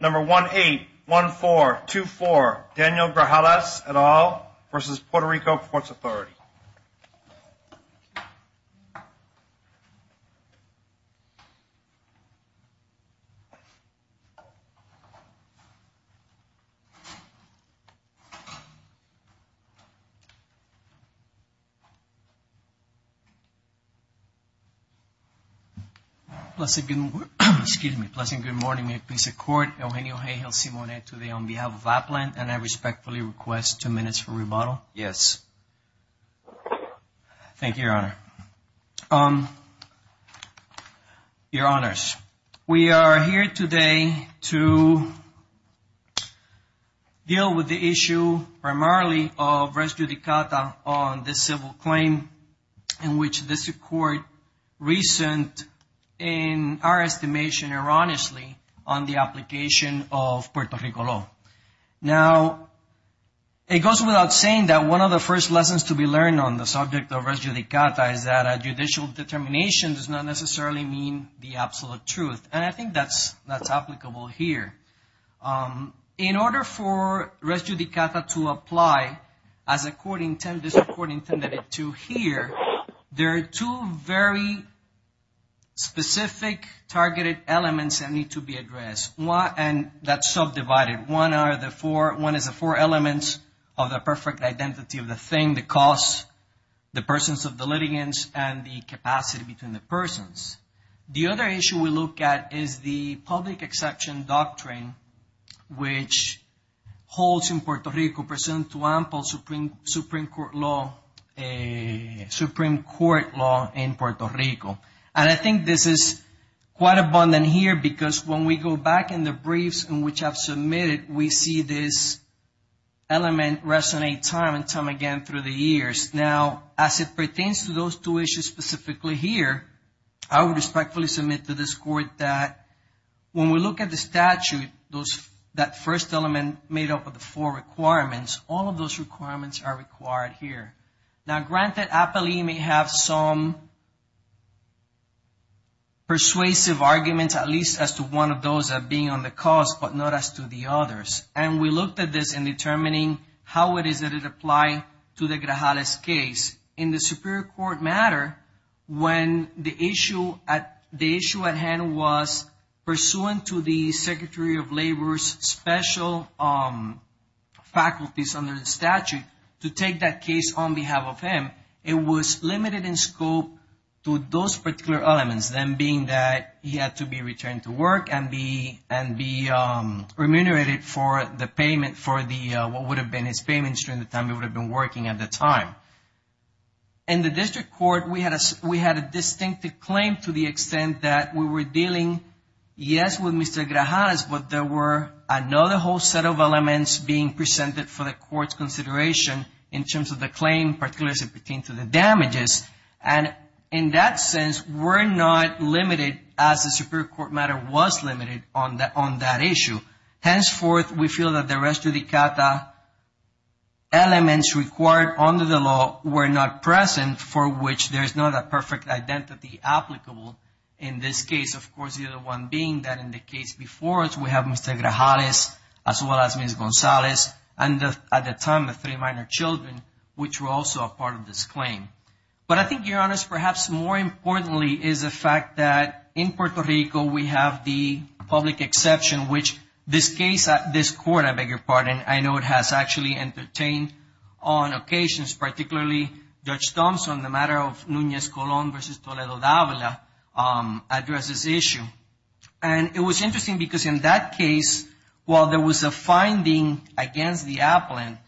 Number 181424 Daniel Grajales et al. v. Puerto Rico Ports Authority May it please the Court, Eugenio Heyhill Simonet today on behalf of Apland, and I respectfully request two minutes for rebuttal. Eugenio Heyhill Simonet Thank you, Your Honor. Your Honors, we are here today to deal with the issue primarily of res judicata on this civil claim in which this Court recent in our estimation erroneously on the application of Puerto Rico law. Now, it goes without saying that one of the first lessons to be learned on the subject of res judicata is that a judicial determination does not necessarily mean the absolute truth, and I think that's applicable here. In order for res judicata to apply as the Court intended it to here, there are two very specific targeted elements that need to be addressed, and that's subdivided. One is the four elements of the perfect identity of the thing, the cause, the persons of the litigants, and the capacity between the persons. The other issue we look at is the public exception doctrine, which holds in Puerto Rico pursuant to ample Supreme Court law in Puerto Rico. And I think this is quite abundant here because when we go back in the briefs in which I've submitted, we see this element resonate time and time again through the years. Now, as it pertains to those two issues specifically here, I would respectfully submit to this Court that when we look at the statute, that first element made up of the four requirements, all of those requirements are required here. Now, granted, APELI may have some persuasive arguments, at least as to one of those being on the cause, but not as to the others. And we looked at this in determining how it is that it applied to the Grajales case. In the Superior Court matter, when the issue at hand was pursuant to the Secretary of Labor's special faculties under the statute to take that case on behalf of him, it was limited in scope to those particular elements, them being that he had to be returned to work and be remunerated for the payment for what would have been his payments during the time he would have been working at the time. In the District Court, we had a distinctive claim to the extent that we were dealing, yes, with Mr. Grajales, but there were another whole set of elements being presented for the Court's consideration in terms of the claim, particularly as it pertains to the damages. And in that sense, we're not limited as the Superior Court matter was limited on that issue. Henceforth, we feel that the rest of the CATA elements required under the law were not present for which there is not a perfect identity applicable in this case. Of course, the other one being that in the case before us, we have Mr. Grajales, as well as Ms. Gonzalez, and at the time, the three minor children, which were also a part of this claim. But I think, Your Honors, perhaps more importantly is the fact that in Puerto Rico, we have the public exception, which this case, this Court, I beg your pardon, I know it has actually entertained on occasions, particularly Judge Thompson, the matter of Nunez-Colón versus Toledo-Davila addresses issue. And it was interesting because in that case, while there was a finding against the appellant,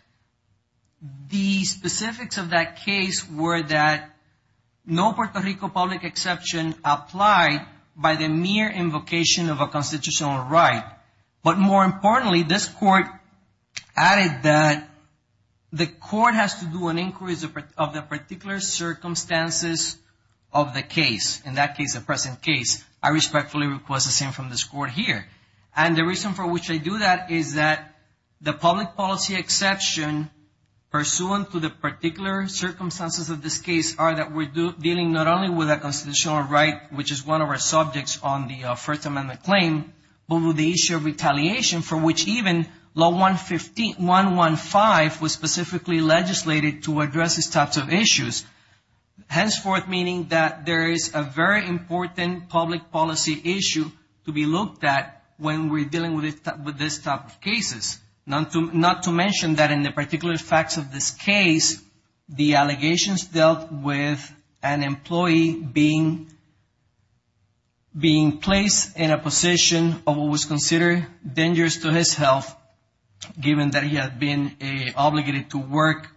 the specifics of that case were that no Puerto Rico public exception applied by the mere invocation of a constitutional right. But more importantly, this Court added that the Court has to do an inquiry of the particular circumstances of the case. In that case, the present case, I respectfully request the same from this Court here. And the reason for which I do that is that the public policy exception pursuant to the particular circumstances of this case are that we're dealing not only with a constitutional right, which is one of our subjects on the First Amendment claim, but with the issue of retaliation for which even Law 115 was specifically legislated to address these types of issues. Henceforth, meaning that there is a very important public policy issue to be looked at when we're dealing with this type of cases. Not to mention that in the particular facts of this case, the allegations dealt with an employee being placed in a position of what was considered dangerous to his health, given that he had been obligated to work,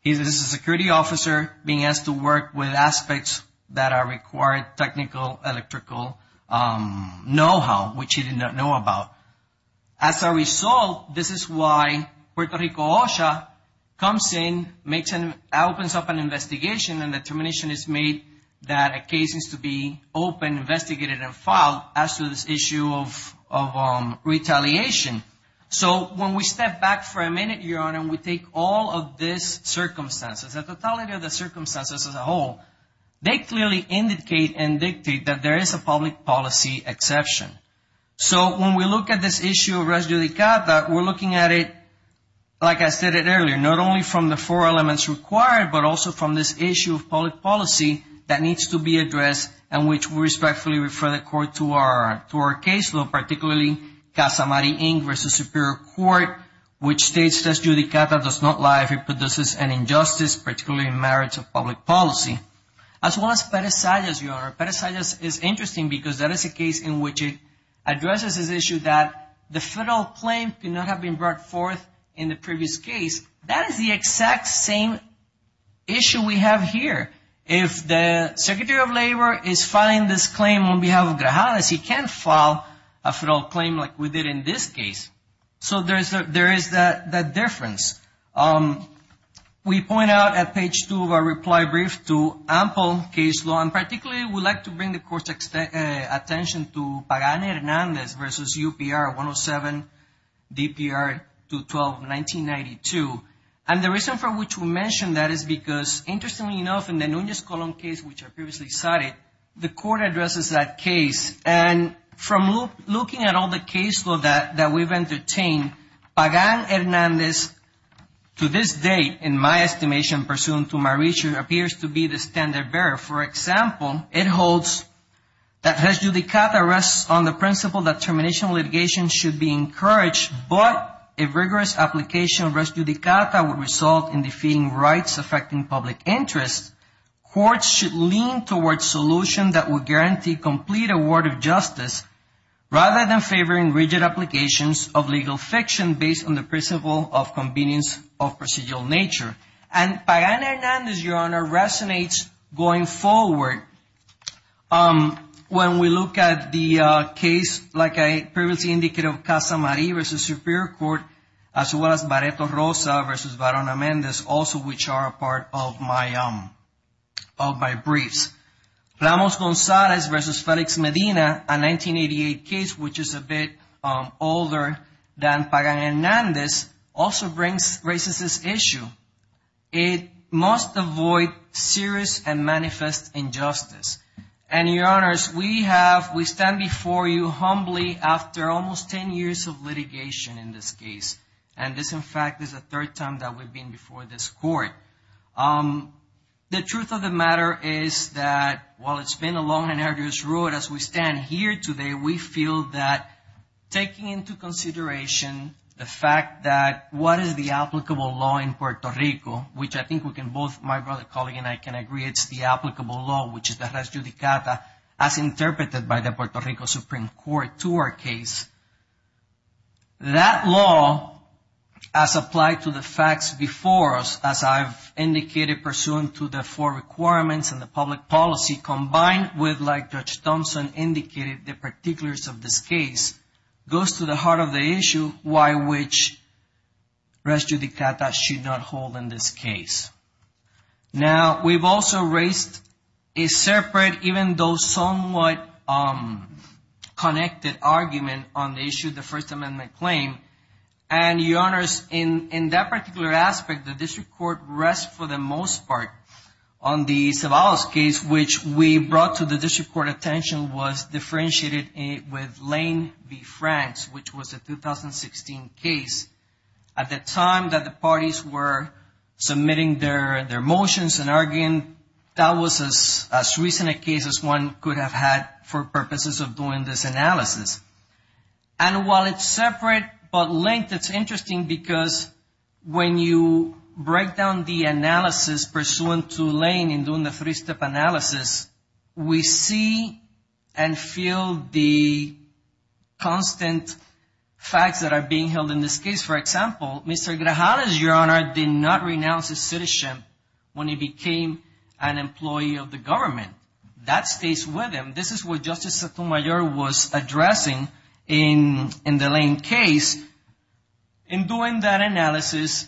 he was a security officer, being asked to work with aspects that are required technical, electrical know-how, which he did not know about. As a result, this is why Puerto Rico OSHA comes in, makes an, opens up an investigation, and the determination is made that a case needs to be opened, investigated, and filed as to this issue of retaliation. So when we step back for a minute, Your Honor, and we take all of these circumstances, the totality of the circumstances as a whole, they clearly indicate and dictate that there is a public policy exception. So when we look at this issue of res judicata, we're looking at it, like I said it earlier, not only from the four elements required, but also from this issue of public policy that needs to be addressed and which we respectfully refer the Court to our caseload, particularly Casa Mari, Inc. versus Superior Court, which states, res judicata does not lie if it produces an injustice, particularly in merits of public policy, as well as peresallas, Your Honor. Peresallas is interesting because that is a case in which it addresses this issue that the federal claim could not have been brought forth in the previous case. That is the exact same issue we have here. If the Secretary of Labor is filing this claim on behalf of Grajales, he can't file a federal claim like we did in this case. So there is that difference. We point out at page two of our reply brief to ample caseload, and particularly we'd like to bring the Court's attention to Pagani-Hernandez versus UPR, 107 DPR 212, 1992. And the reason for which we mention that is because, interestingly enough, in the Nunez-Colón case, which I previously cited, the Court addresses that case. And from looking at all the caseload that we've entertained, Pagani-Hernandez, to this date, in my estimation, pursuant to my research, appears to be the standard bearer. For example, it holds that res judicata rests on the principle that termination of litigation should be encouraged, but a rigorous application of res judicata would result in defeating rights affecting public interest. Courts should lean towards solutions that will guarantee complete award of justice rather than favoring rigid applications of legal fiction based on the principle of convenience of procedural nature. And Pagani-Hernandez, Your Honor, resonates going forward when we look at the case, like I previously indicated, of Casa Marie versus Superior Court, as well as Barreto Rosa versus Verona-Mendez, also which are a part of my briefs. Plamos-Gonzalez versus Felix Medina, a 1988 case which is a bit older than Pagani-Hernandez, also raises this issue. It must avoid serious and manifest injustice. And, Your Honors, we stand before you humbly after almost 10 years of litigation in this case. In fact, this is the third time that we've been before this Court. The truth of the matter is that while it's been a long and arduous road as we stand here today, we feel that taking into consideration the fact that what is the applicable law in Puerto Rico, which I think we can both, my colleague and I, can agree it's the applicable law, which is the res judicata, as interpreted by the Puerto Rico Supreme Court to our case. That law, as applied to the facts before us, as I've indicated pursuant to the four requirements and the public policy, combined with, like Judge Thompson indicated, the particulars of this case, goes to the heart of the issue, why which res judicata should not hold in this case. Now, we've also raised a separate, even though somewhat connected, argument on the issue of the First Amendment claim. And Your Honors, in that particular aspect, the District Court rests for the most part on the Ceballos case, which we brought to the District Court attention was differentiated with Lane v. Franks, which was a 2016 case. At the time that the parties were submitting their motions and arguing, that was as recent a case as one could have had for purposes of doing this analysis. And while it's separate, but linked, it's interesting because when you break down the analysis pursuant to Lane in doing the three-step analysis, we see and feel the constant facts that are being held in this case. For example, Mr. Grajales, Your Honor, did not renounce his citizenship when he became an employee of the government. That stays with him. This is what Justice Sotomayor was addressing in the Lane case. In doing that analysis,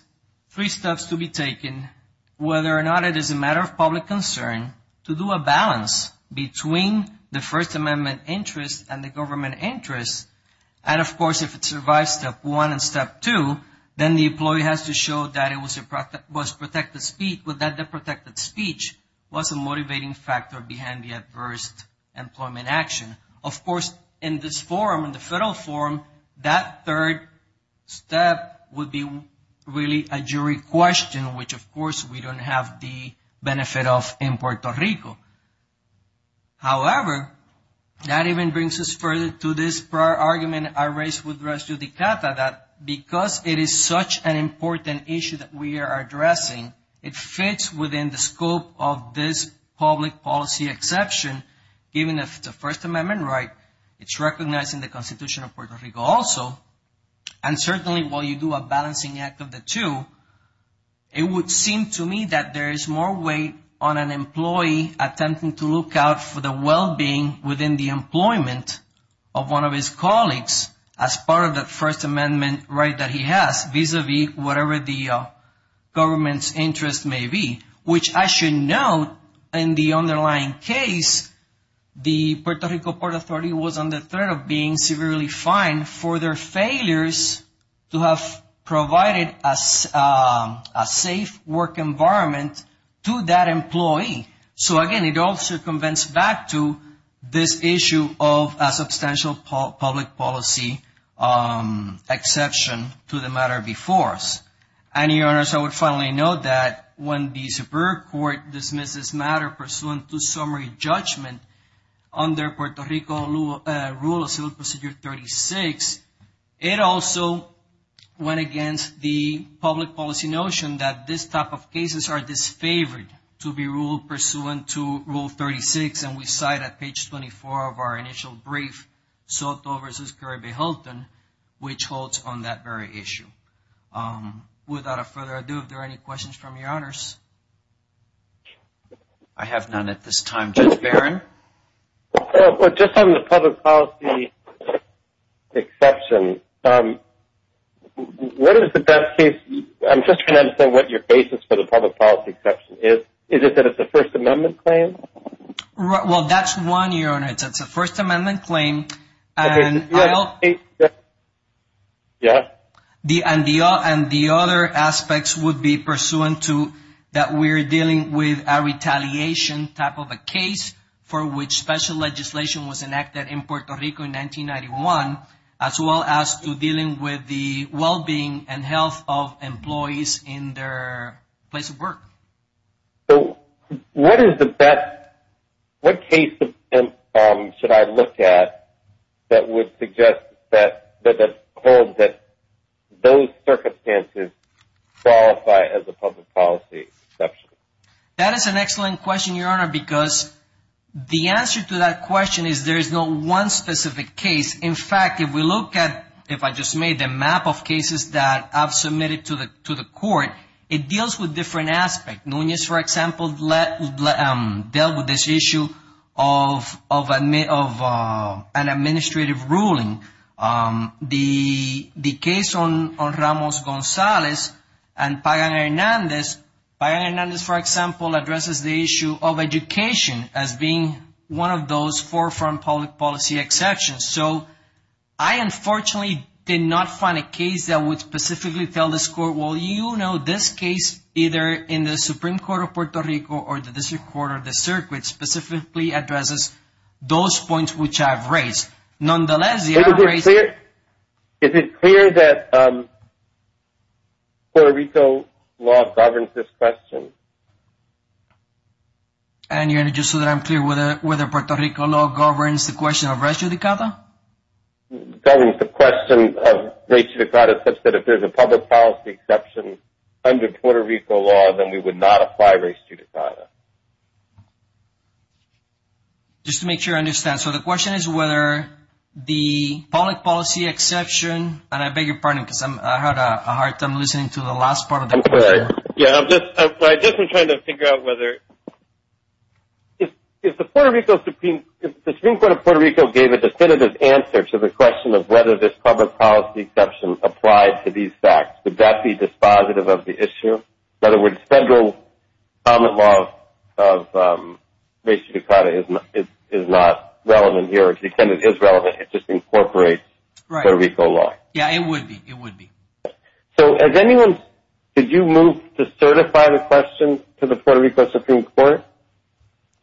three steps to be taken, whether or not it is a matter of public concern to do a balance between the First Amendment interest and the government interest. And of course, if it survives step one and step two, then the employee has to show that it was protected speech, that the protected speech was a motivating factor behind the adverse employment action. Of course, in this forum, in the federal forum, that third step would be really a jury question, which of course we don't have the benefit of in Puerto Rico. However, that even brings us further to this prior argument I raised with Judge Dicata that because it is such an important issue that we are addressing, it fits within the scope of this public policy exception, even if it's a First Amendment right, it's recognized in the Constitution of Puerto Rico also. And certainly while you do a balancing act of the two, it would seem to me that there was an attempt to look out for the well-being within the employment of one of his colleagues as part of the First Amendment right that he has vis-a-vis whatever the government's interest may be, which I should note in the underlying case, the Puerto Rico Port Authority was under threat of being severely fined for their failures to have provided a safe work environment to that employee. So again, it also convinces back to this issue of a substantial public policy exception to the matter before us. And Your Honors, I would finally note that when the Superior Court dismissed this matter pursuant to summary judgment under Puerto Rico Rule of Civil Procedure 36, it also went against the public policy notion that this type of cases are disfavored to be ruled pursuant to Rule 36, and we cite at page 24 of our initial brief, Soto v. Curry v. Hilton, which holds on that very issue. Without further ado, if there are any questions from Your Honors? Judge Barron? Well, just on the public policy exception, what is the best case, I'm just trying to understand what your basis for the public policy exception is. Is it that it's a First Amendment claim? Well, that's one, Your Honors, it's a First Amendment claim, and the other aspects would be pursuant to that we're dealing with a retaliation type of a case for which special legislation was enacted in Puerto Rico in 1991, as well as to dealing with the well-being and health of employees in their place of work. So what is the best, what case should I look at that would suggest that, that holds that those circumstances qualify as a public policy exception? That is an excellent question, Your Honor, because the answer to that question is there is no one specific case. In fact, if we look at, if I just made a map of cases that I've submitted to the court, it deals with different aspects. Nunez, for example, dealt with this issue of an administrative ruling. The case on Ramos-Gonzalez and Pagan-Hernandez, Pagan-Hernandez, for example, addresses the issue of education as being one of those forefront public policy exceptions. So I, unfortunately, did not find a case that would specifically tell this court, well, you know this case, either in the Supreme Court of Puerto Rico or the district court or the circuit specifically addresses those points which I've raised. Nonetheless, I've raised... Is it clear, is it clear that Puerto Rico law governs this question? And, Your Honor, just so that I'm clear, whether Puerto Rico law governs the question of race judicata? Governs the question of race judicata such that if there's a public policy exception under Puerto Rico law, then we would not apply race judicata. Just to make sure I understand. So the question is whether the public policy exception, and I beg your pardon because I had a hard time listening to the last part of the question. I'm sorry. Yeah, I've just been trying to figure out whether... If the Supreme Court of Puerto Rico gave a definitive answer to the question of whether this public policy exception applied to these facts, would that be dispositive of the issue? In other words, federal law of race judicata is not relevant here. To the extent it is relevant, it just incorporates Puerto Rico law. Right. Yeah, it would be. It would be. So has anyone... Did you move to certify the question to the Puerto Rico Supreme Court?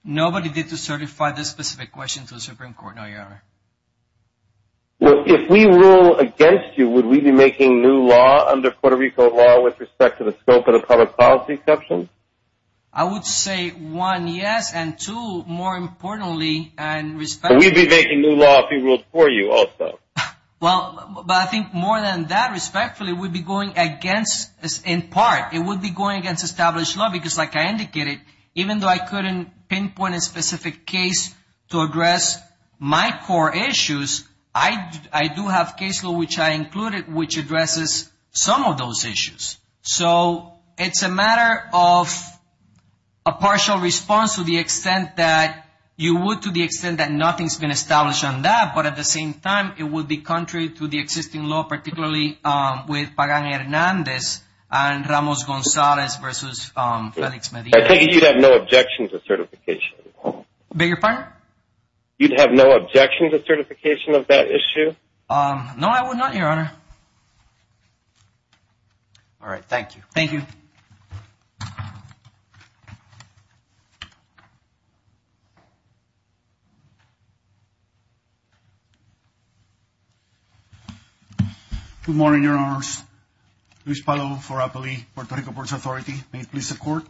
Nobody did to certify this specific question to the Supreme Court, no, Your Honor. Well, if we rule against you, would we be making new law under Puerto Rico law with respect to the scope of the public policy exception? I would say, one, yes, and two, more importantly, and respectfully... We'd be making new law if we ruled for you also. Well, but I think more than that, respectfully, we'd be going against... In part, it would be going against established law because like I indicated, even though I couldn't pinpoint a specific case to address my core issues, I do have case law which I So it's a matter of a partial response to the extent that you would to the extent that nothing's been established on that, but at the same time, it would be contrary to the existing law, particularly with Pagan-Hernandez and Ramos-Gonzalez versus Felix Medina. I take it you'd have no objection to certification? Beg your pardon? You'd have no objection to certification of that issue? No, I would not, Your Honor. All right. Thank you. Thank you. Good morning, Your Honors. Luis Palo for APALEE, Puerto Rico Ports Authority. May it please the Court.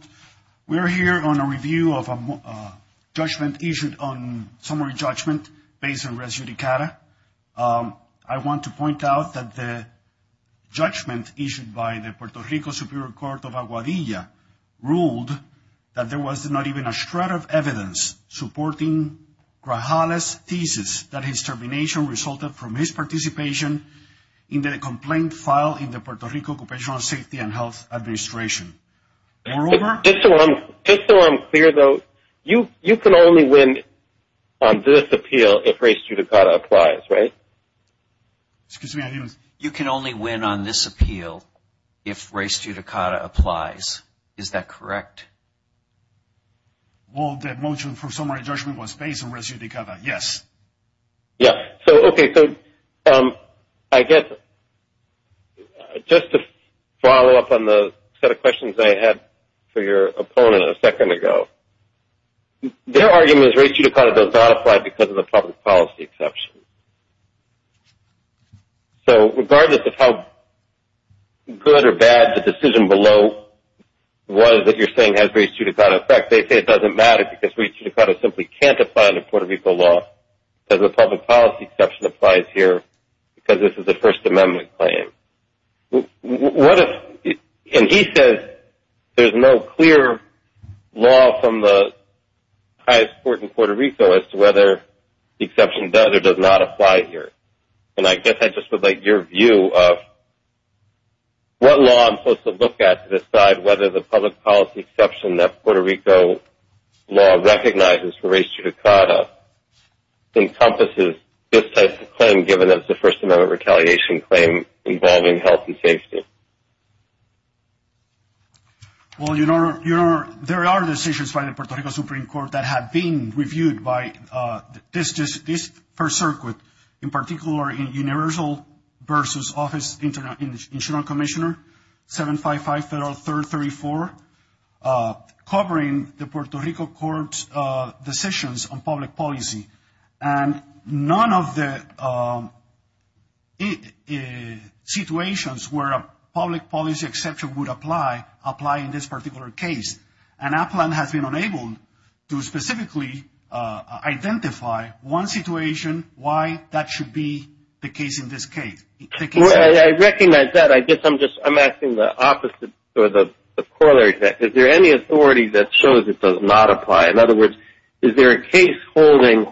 We are here on a review of a judgment issued on summary judgment based on res judicata. I want to point out that the judgment issued by the Puerto Rico Superior Court of Aguadilla ruled that there was not even a shred of evidence supporting Grajales' thesis that his termination resulted from his participation in the complaint filed in the Puerto Rico Occupational Safety and Health Administration. Moreover... Excuse me, I didn't... You can only win on this appeal if res judicata applies. Is that correct? Well, the motion for summary judgment was based on res judicata, yes. Yeah. So, okay. So, I guess just to follow up on the set of questions I had for your opponent a second ago. Their argument is res judicata does not apply because of the public policy exception. So, regardless of how good or bad the decision below was that you're saying has res judicata effect, they say it doesn't matter because res judicata simply can't apply under Puerto Rico law because the public policy exception applies here because this is a First Amendment claim. And he says there's no clear law from the highest court in Puerto Rico as to whether the exception does or does not apply here. And I guess I just would like your view of what law I'm supposed to look at to decide whether the public policy exception that Puerto Rico law recognizes for res judicata encompasses this type of claim given that it's a First Amendment retaliation claim involving health and safety. Well, your Honor, there are decisions by the Puerto Rico Supreme Court that have been reviewed by this First Circuit, in particular in universal versus office internal commissioner 755 Federal 3rd 34, covering the Puerto Rico court's decisions on public policy. And none of the situations where a public policy exception would apply, apply in this particular case. And APLAN has been unable to specifically identify one situation why that should be the case in this case. Well, I recognize that. I guess I'm just, I'm asking the opposite, or the corollary to that. Is there any authority that shows it does not apply? In other words, is there a case holding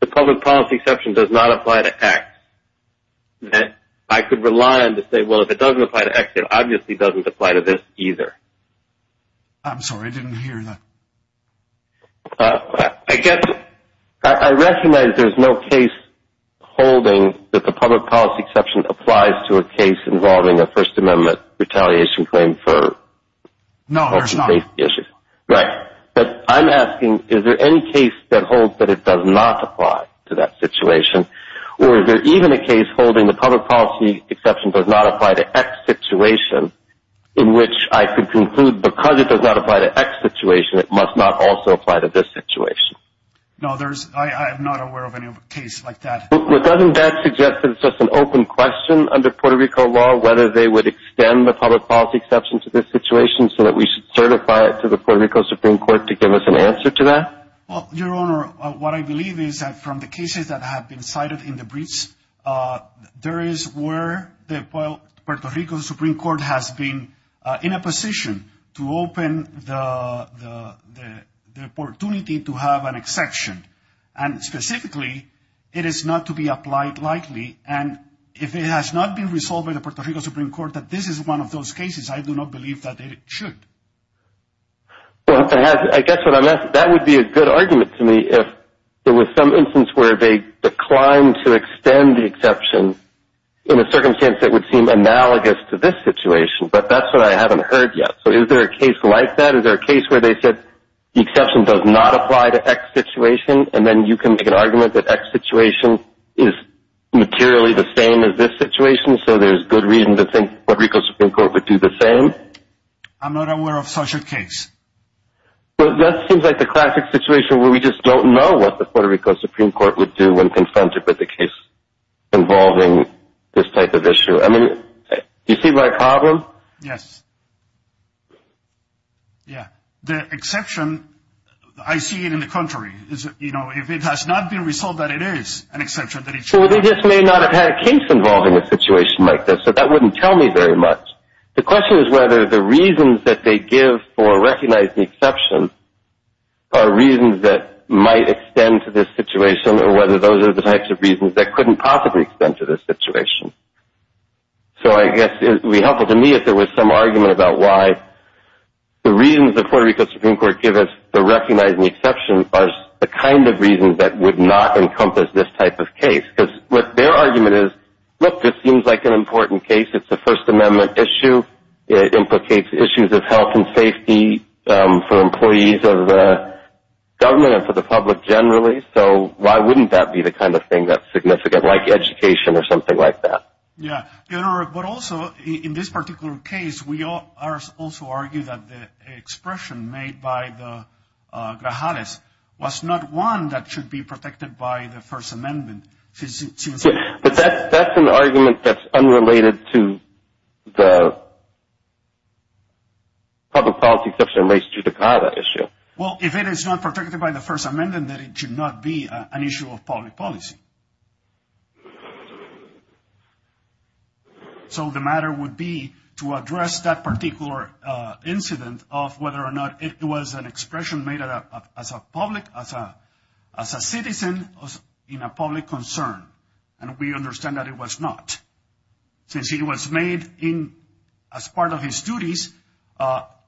the public policy exception does not apply to X that I could rely on to say, well, if it doesn't apply to X, it obviously doesn't apply to this either. I'm sorry, I didn't hear that. I guess I recognize there's no case holding that the public policy exception applies to a case involving a First Amendment retaliation claim for health and safety issues. No, there's not. Right. But I'm asking, is there any case that holds that it does not apply to that situation? Or is there even a case holding the public policy exception does not apply to X situation in which I could conclude because it does not apply to X situation, it must not also apply to this situation? No, there's, I'm not aware of any case like that. But doesn't that suggest that it's just an open question under Puerto Rico law whether they would extend the public policy exception to this situation so that we should certify it to the Puerto Rico Supreme Court to give us an answer to that? Well, Your Honor, what I believe is that from the cases that have been cited in the briefs, there is where the Puerto Rico Supreme Court has been in a position to open the opportunity to have an exception. And specifically, it is not to be applied lightly. And if it has not been resolved by the Puerto Rico Supreme Court that this is one of those cases, I do not believe that it should. Well, I guess what I'm asking, that would be a good argument to me if there was some instance where they declined to extend the exception in a circumstance that would seem analogous to this situation. But that's what I haven't heard yet. So is there a case like that? Is there a case where they said the exception does not apply to X situation and then you can make an argument that X situation is materially the same as this situation so there's good reason to think Puerto Rico Supreme Court would do the same? I'm not aware of such a case. Well, that seems like the classic situation where we just don't know what the Puerto Rico Supreme Court would do when confronted with a case involving this type of issue. I mean, do you see my problem? Yes. Yeah. The exception, I see it in the contrary. If it has not been resolved that it is an exception, then it should be. Well, they just may not have had a case involving a situation like this, so that wouldn't tell me very much. The question is whether the reasons that they give for recognizing the exception are reasons that might extend to this situation or whether those are the types of reasons that couldn't possibly extend to this situation. So I guess it would be helpful to me if there was some argument about why the reasons the Puerto Rico Supreme Court give us for recognizing the exception are the kind of reasons that would not encompass this type of case. Because what their argument is, look, this seems like an important case. It's a First Amendment issue. It implicates issues of health and safety for employees of the government and for the public generally. So why wouldn't that be the kind of thing that's significant, like education or something like that? Yeah. But also, in this particular case, we also argue that the expression made by the Grajales was not one that should be protected by the First Amendment. But that's an argument that's unrelated to the public policy exception in relation to the CAVA issue. Well, if it is not protected by the First Amendment, then it should not be an issue of public policy. So the matter would be to address that particular incident of whether or not it was an expression made as a citizen in a public concern. And we understand that it was not, since it was made as part of his duties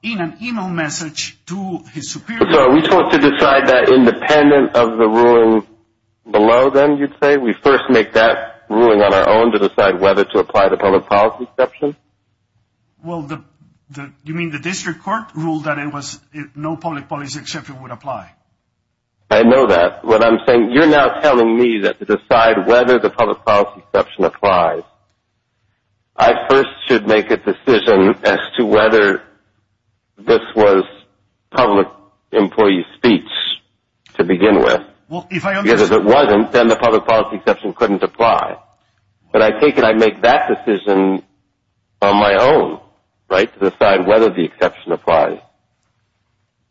in an email message to his superior. So are we supposed to decide that independent of the ruling below then, you'd say? We first make that ruling on our own to decide whether to apply the public policy exception? Well, you mean the district court ruled that no public policy exception would apply? I know that. What I'm saying, you're now telling me that to decide whether the public policy exception applies, I first should make a decision as to whether this was public employee speech to begin with. Because if it wasn't, then the public policy exception couldn't apply. But I take it I make that decision on my own to decide whether the exception applies.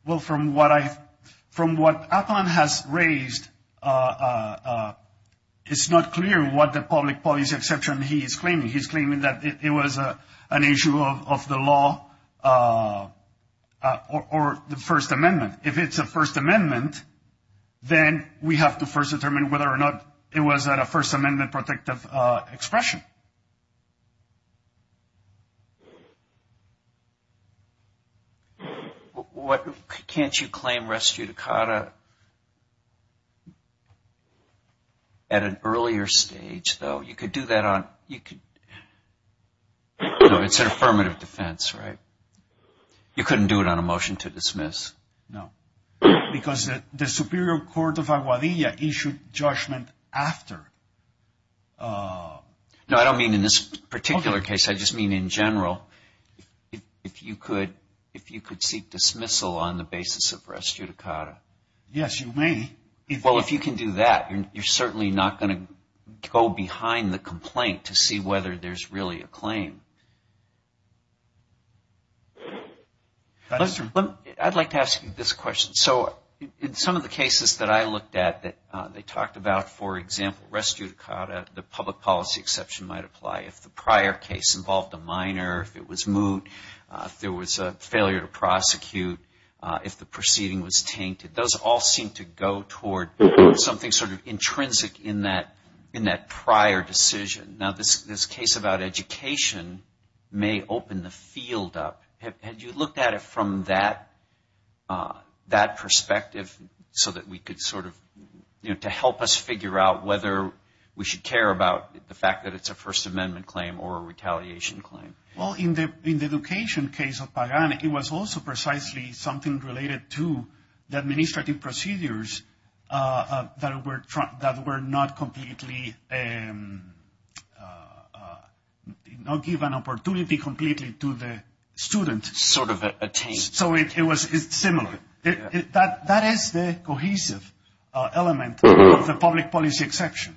Well, from what Athalan has raised, it's not clear what the public policy exception he is claiming. He's claiming that it was an issue of the law or the First Amendment. If it's a First Amendment, then we have to first determine whether or not it was a First Amendment protective expression. Can't you claim res judicata at an earlier stage, though? You could do that on – it's an affirmative defense, right? You couldn't do it on a motion to dismiss. No. Because the Superior Court of Aguadilla issued judgment after. No, I don't mean in this particular case. I just mean in general. If you could seek dismissal on the basis of res judicata. Yes, you may. Well, if you can do that, you're certainly not going to go behind the complaint to see whether there's really a claim. I'd like to ask you this question. So in some of the cases that I looked at that they talked about, for example, res judicata, the public policy exception might apply if the prior case involved a minor, if it was moot, if there was a failure to prosecute, if the proceeding was tainted. Those all seem to go toward something sort of intrinsic in that prior decision. Now, this case about education may open the field up. Had you looked at it from that perspective so that we could sort of, you know, to help us figure out whether we should care about the fact that it's a First Amendment claim or a retaliation claim? Well, in the education case of Pagan, it was also precisely something related to the administrative procedures that were not completely, not give an opportunity completely to the student. Sort of a taint. So it was similar. That is the cohesive element of the public policy exception.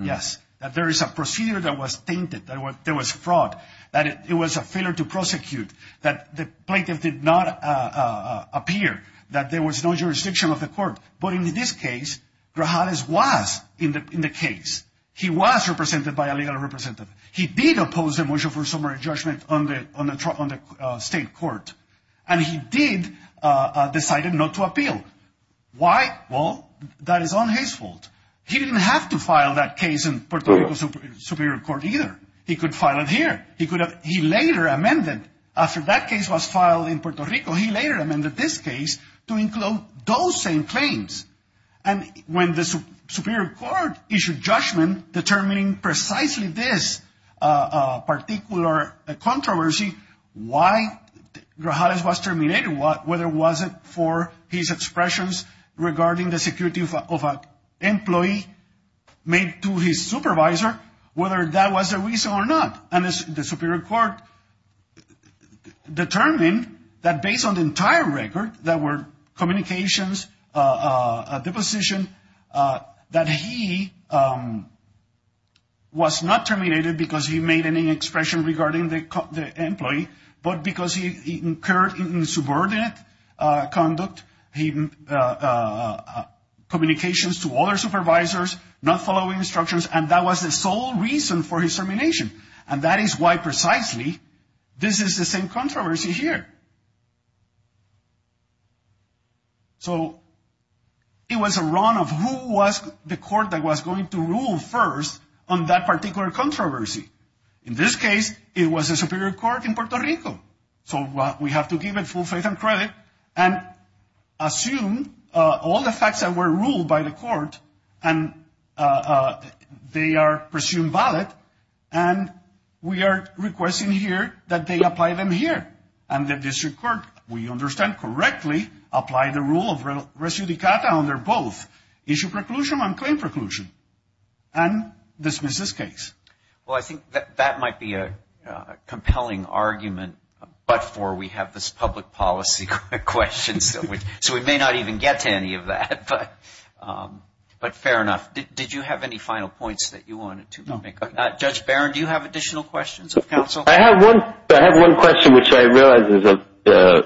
Yes, that there is a procedure that was tainted, that there was fraud, that it was a failure to prosecute, that the plaintiff did not appear, that there was no jurisdiction of the court. But in this case, Grajales was in the case. He was represented by a legal representative. He did oppose the motion for summary judgment on the state court. And he did decide not to appeal. Why? Well, that is not his fault. He didn't have to file that case in Puerto Rico Superior Court either. He could file it here. He later amended. After that case was filed in Puerto Rico, he later amended this case to include those same claims. And when the Superior Court issued judgment determining precisely this particular controversy, why Grajales was terminated, whether it was for his expressions regarding the security of an employee made to his supervisor, whether that was the reason or not. And the Superior Court determined that based on the entire record that were communications, a deposition, that he was not terminated because he made any expression regarding the employee, but because he incurred insubordinate conduct, communications to other supervisors, not following instructions. And that was the sole reason for his termination. And that is why precisely this is the same controversy here. So it was a run of who was the court that was going to rule first on that particular controversy. In this case, it was the Superior Court in Puerto Rico. So we have to give it full faith and credit and assume all the facts that were ruled by the court, and they are presumed valid, and we are requesting here that they apply them here. And the district court, we understand correctly, applied the rule of res judicata under both. Issue preclusion and claim preclusion. And dismiss this case. Well, I think that might be a compelling argument, but for we have this public policy question, so we may not even get to any of that, but fair enough. Did you have any final points that you wanted to make? No. Judge Barron, do you have additional questions of counsel? I have one question, which I realize is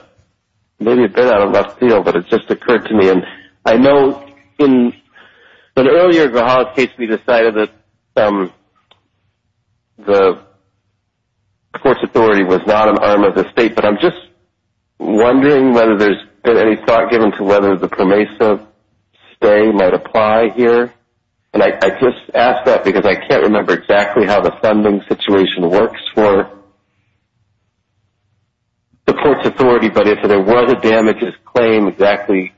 maybe a bit out of left field, but it just occurred to me. And I know in an earlier Guha case, we decided that the courts authority was not an arm of the state, but I'm just wondering whether there's been any thought given to whether the PROMESA stay might apply here. And I just ask that because I can't remember exactly how the funding situation works for the courts authority, but if there was a damages claim, exactly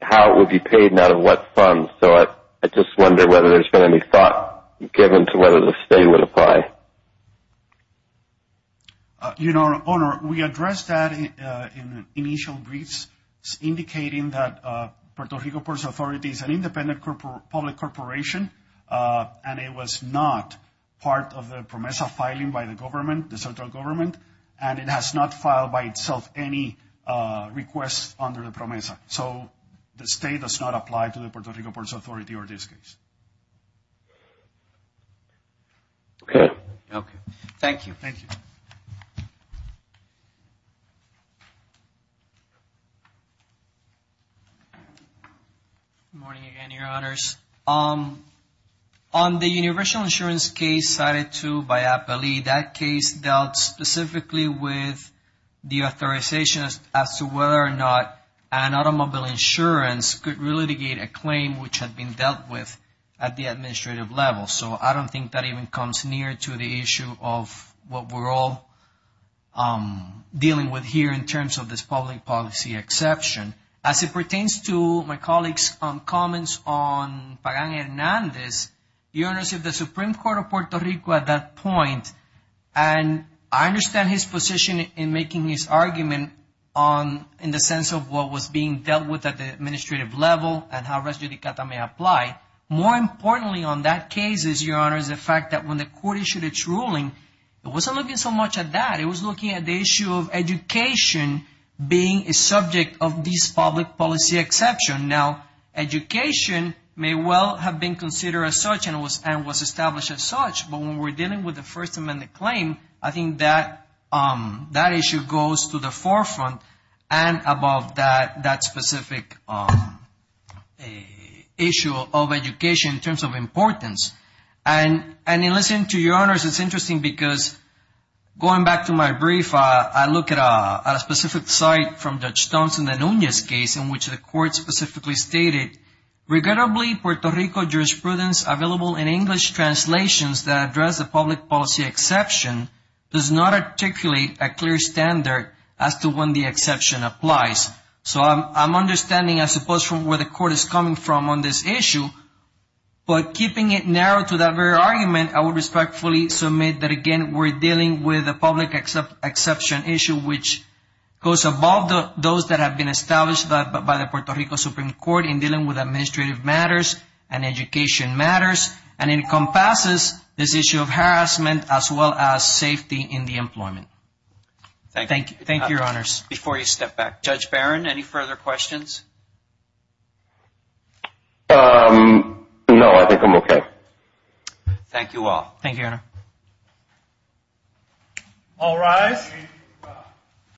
how it would be paid and out of what funds. So I just wonder whether there's been any thought given to whether the stay would apply. Your Honor, we addressed that in initial briefs, indicating that Puerto Rico Ports Authority is an independent public corporation, and it was not part of the PROMESA filing by the government, the central government, and it has not filed by itself any requests under the PROMESA. So the stay does not apply to the Puerto Rico Ports Authority or this case. Thank you. Thank you. Good morning again, Your Honors. On the universal insurance case cited to by APELE, that case dealt specifically with the authorization as to whether or not an automobile insurance could relitigate a claim which had been dealt with at the administrative level. So I don't think that even comes near to the issue of what we're all dealing with here in terms of this public policy exception. As it pertains to my colleagues' comments on Pagan-Hernandez, Your Honors, if the Supreme Court of Puerto Rico at that point, and I understand his position in making his argument in the sense of what was being dealt with at the administrative level and how res judicata may apply. More importantly on that case is, Your Honors, the fact that when the court issued its ruling, it wasn't looking so much at that. It was looking at the issue of education being a subject of this public policy exception. Now, education may well have been considered as such and was established as such, but when we're dealing with a First Amendment claim, I think that issue goes to the forefront and above that specific issue of education in terms of importance. And in listening to Your Honors, it's interesting because going back to my brief, I look at a specific site from Judge Thompson and Nunez's case in which the court specifically stated, Regrettably, Puerto Rico jurisprudence available in English translations that address the public policy exception does not articulate a clear standard as to when the exception applies. So I'm understanding, I suppose, from where the court is coming from on this issue, but keeping it narrow to that very argument, I would respectfully submit that, again, we're dealing with a public exception issue which goes above those that have been established by the Puerto Rico Supreme Court in dealing with administrative matters and education matters and encompasses this issue of harassment as well as safety in the employment. Thank you. Thank you, Your Honors. Before you step back, Judge Barron, any further questions? No, I think I'm okay. Thank you all. Thank you, Your Honor. All rise.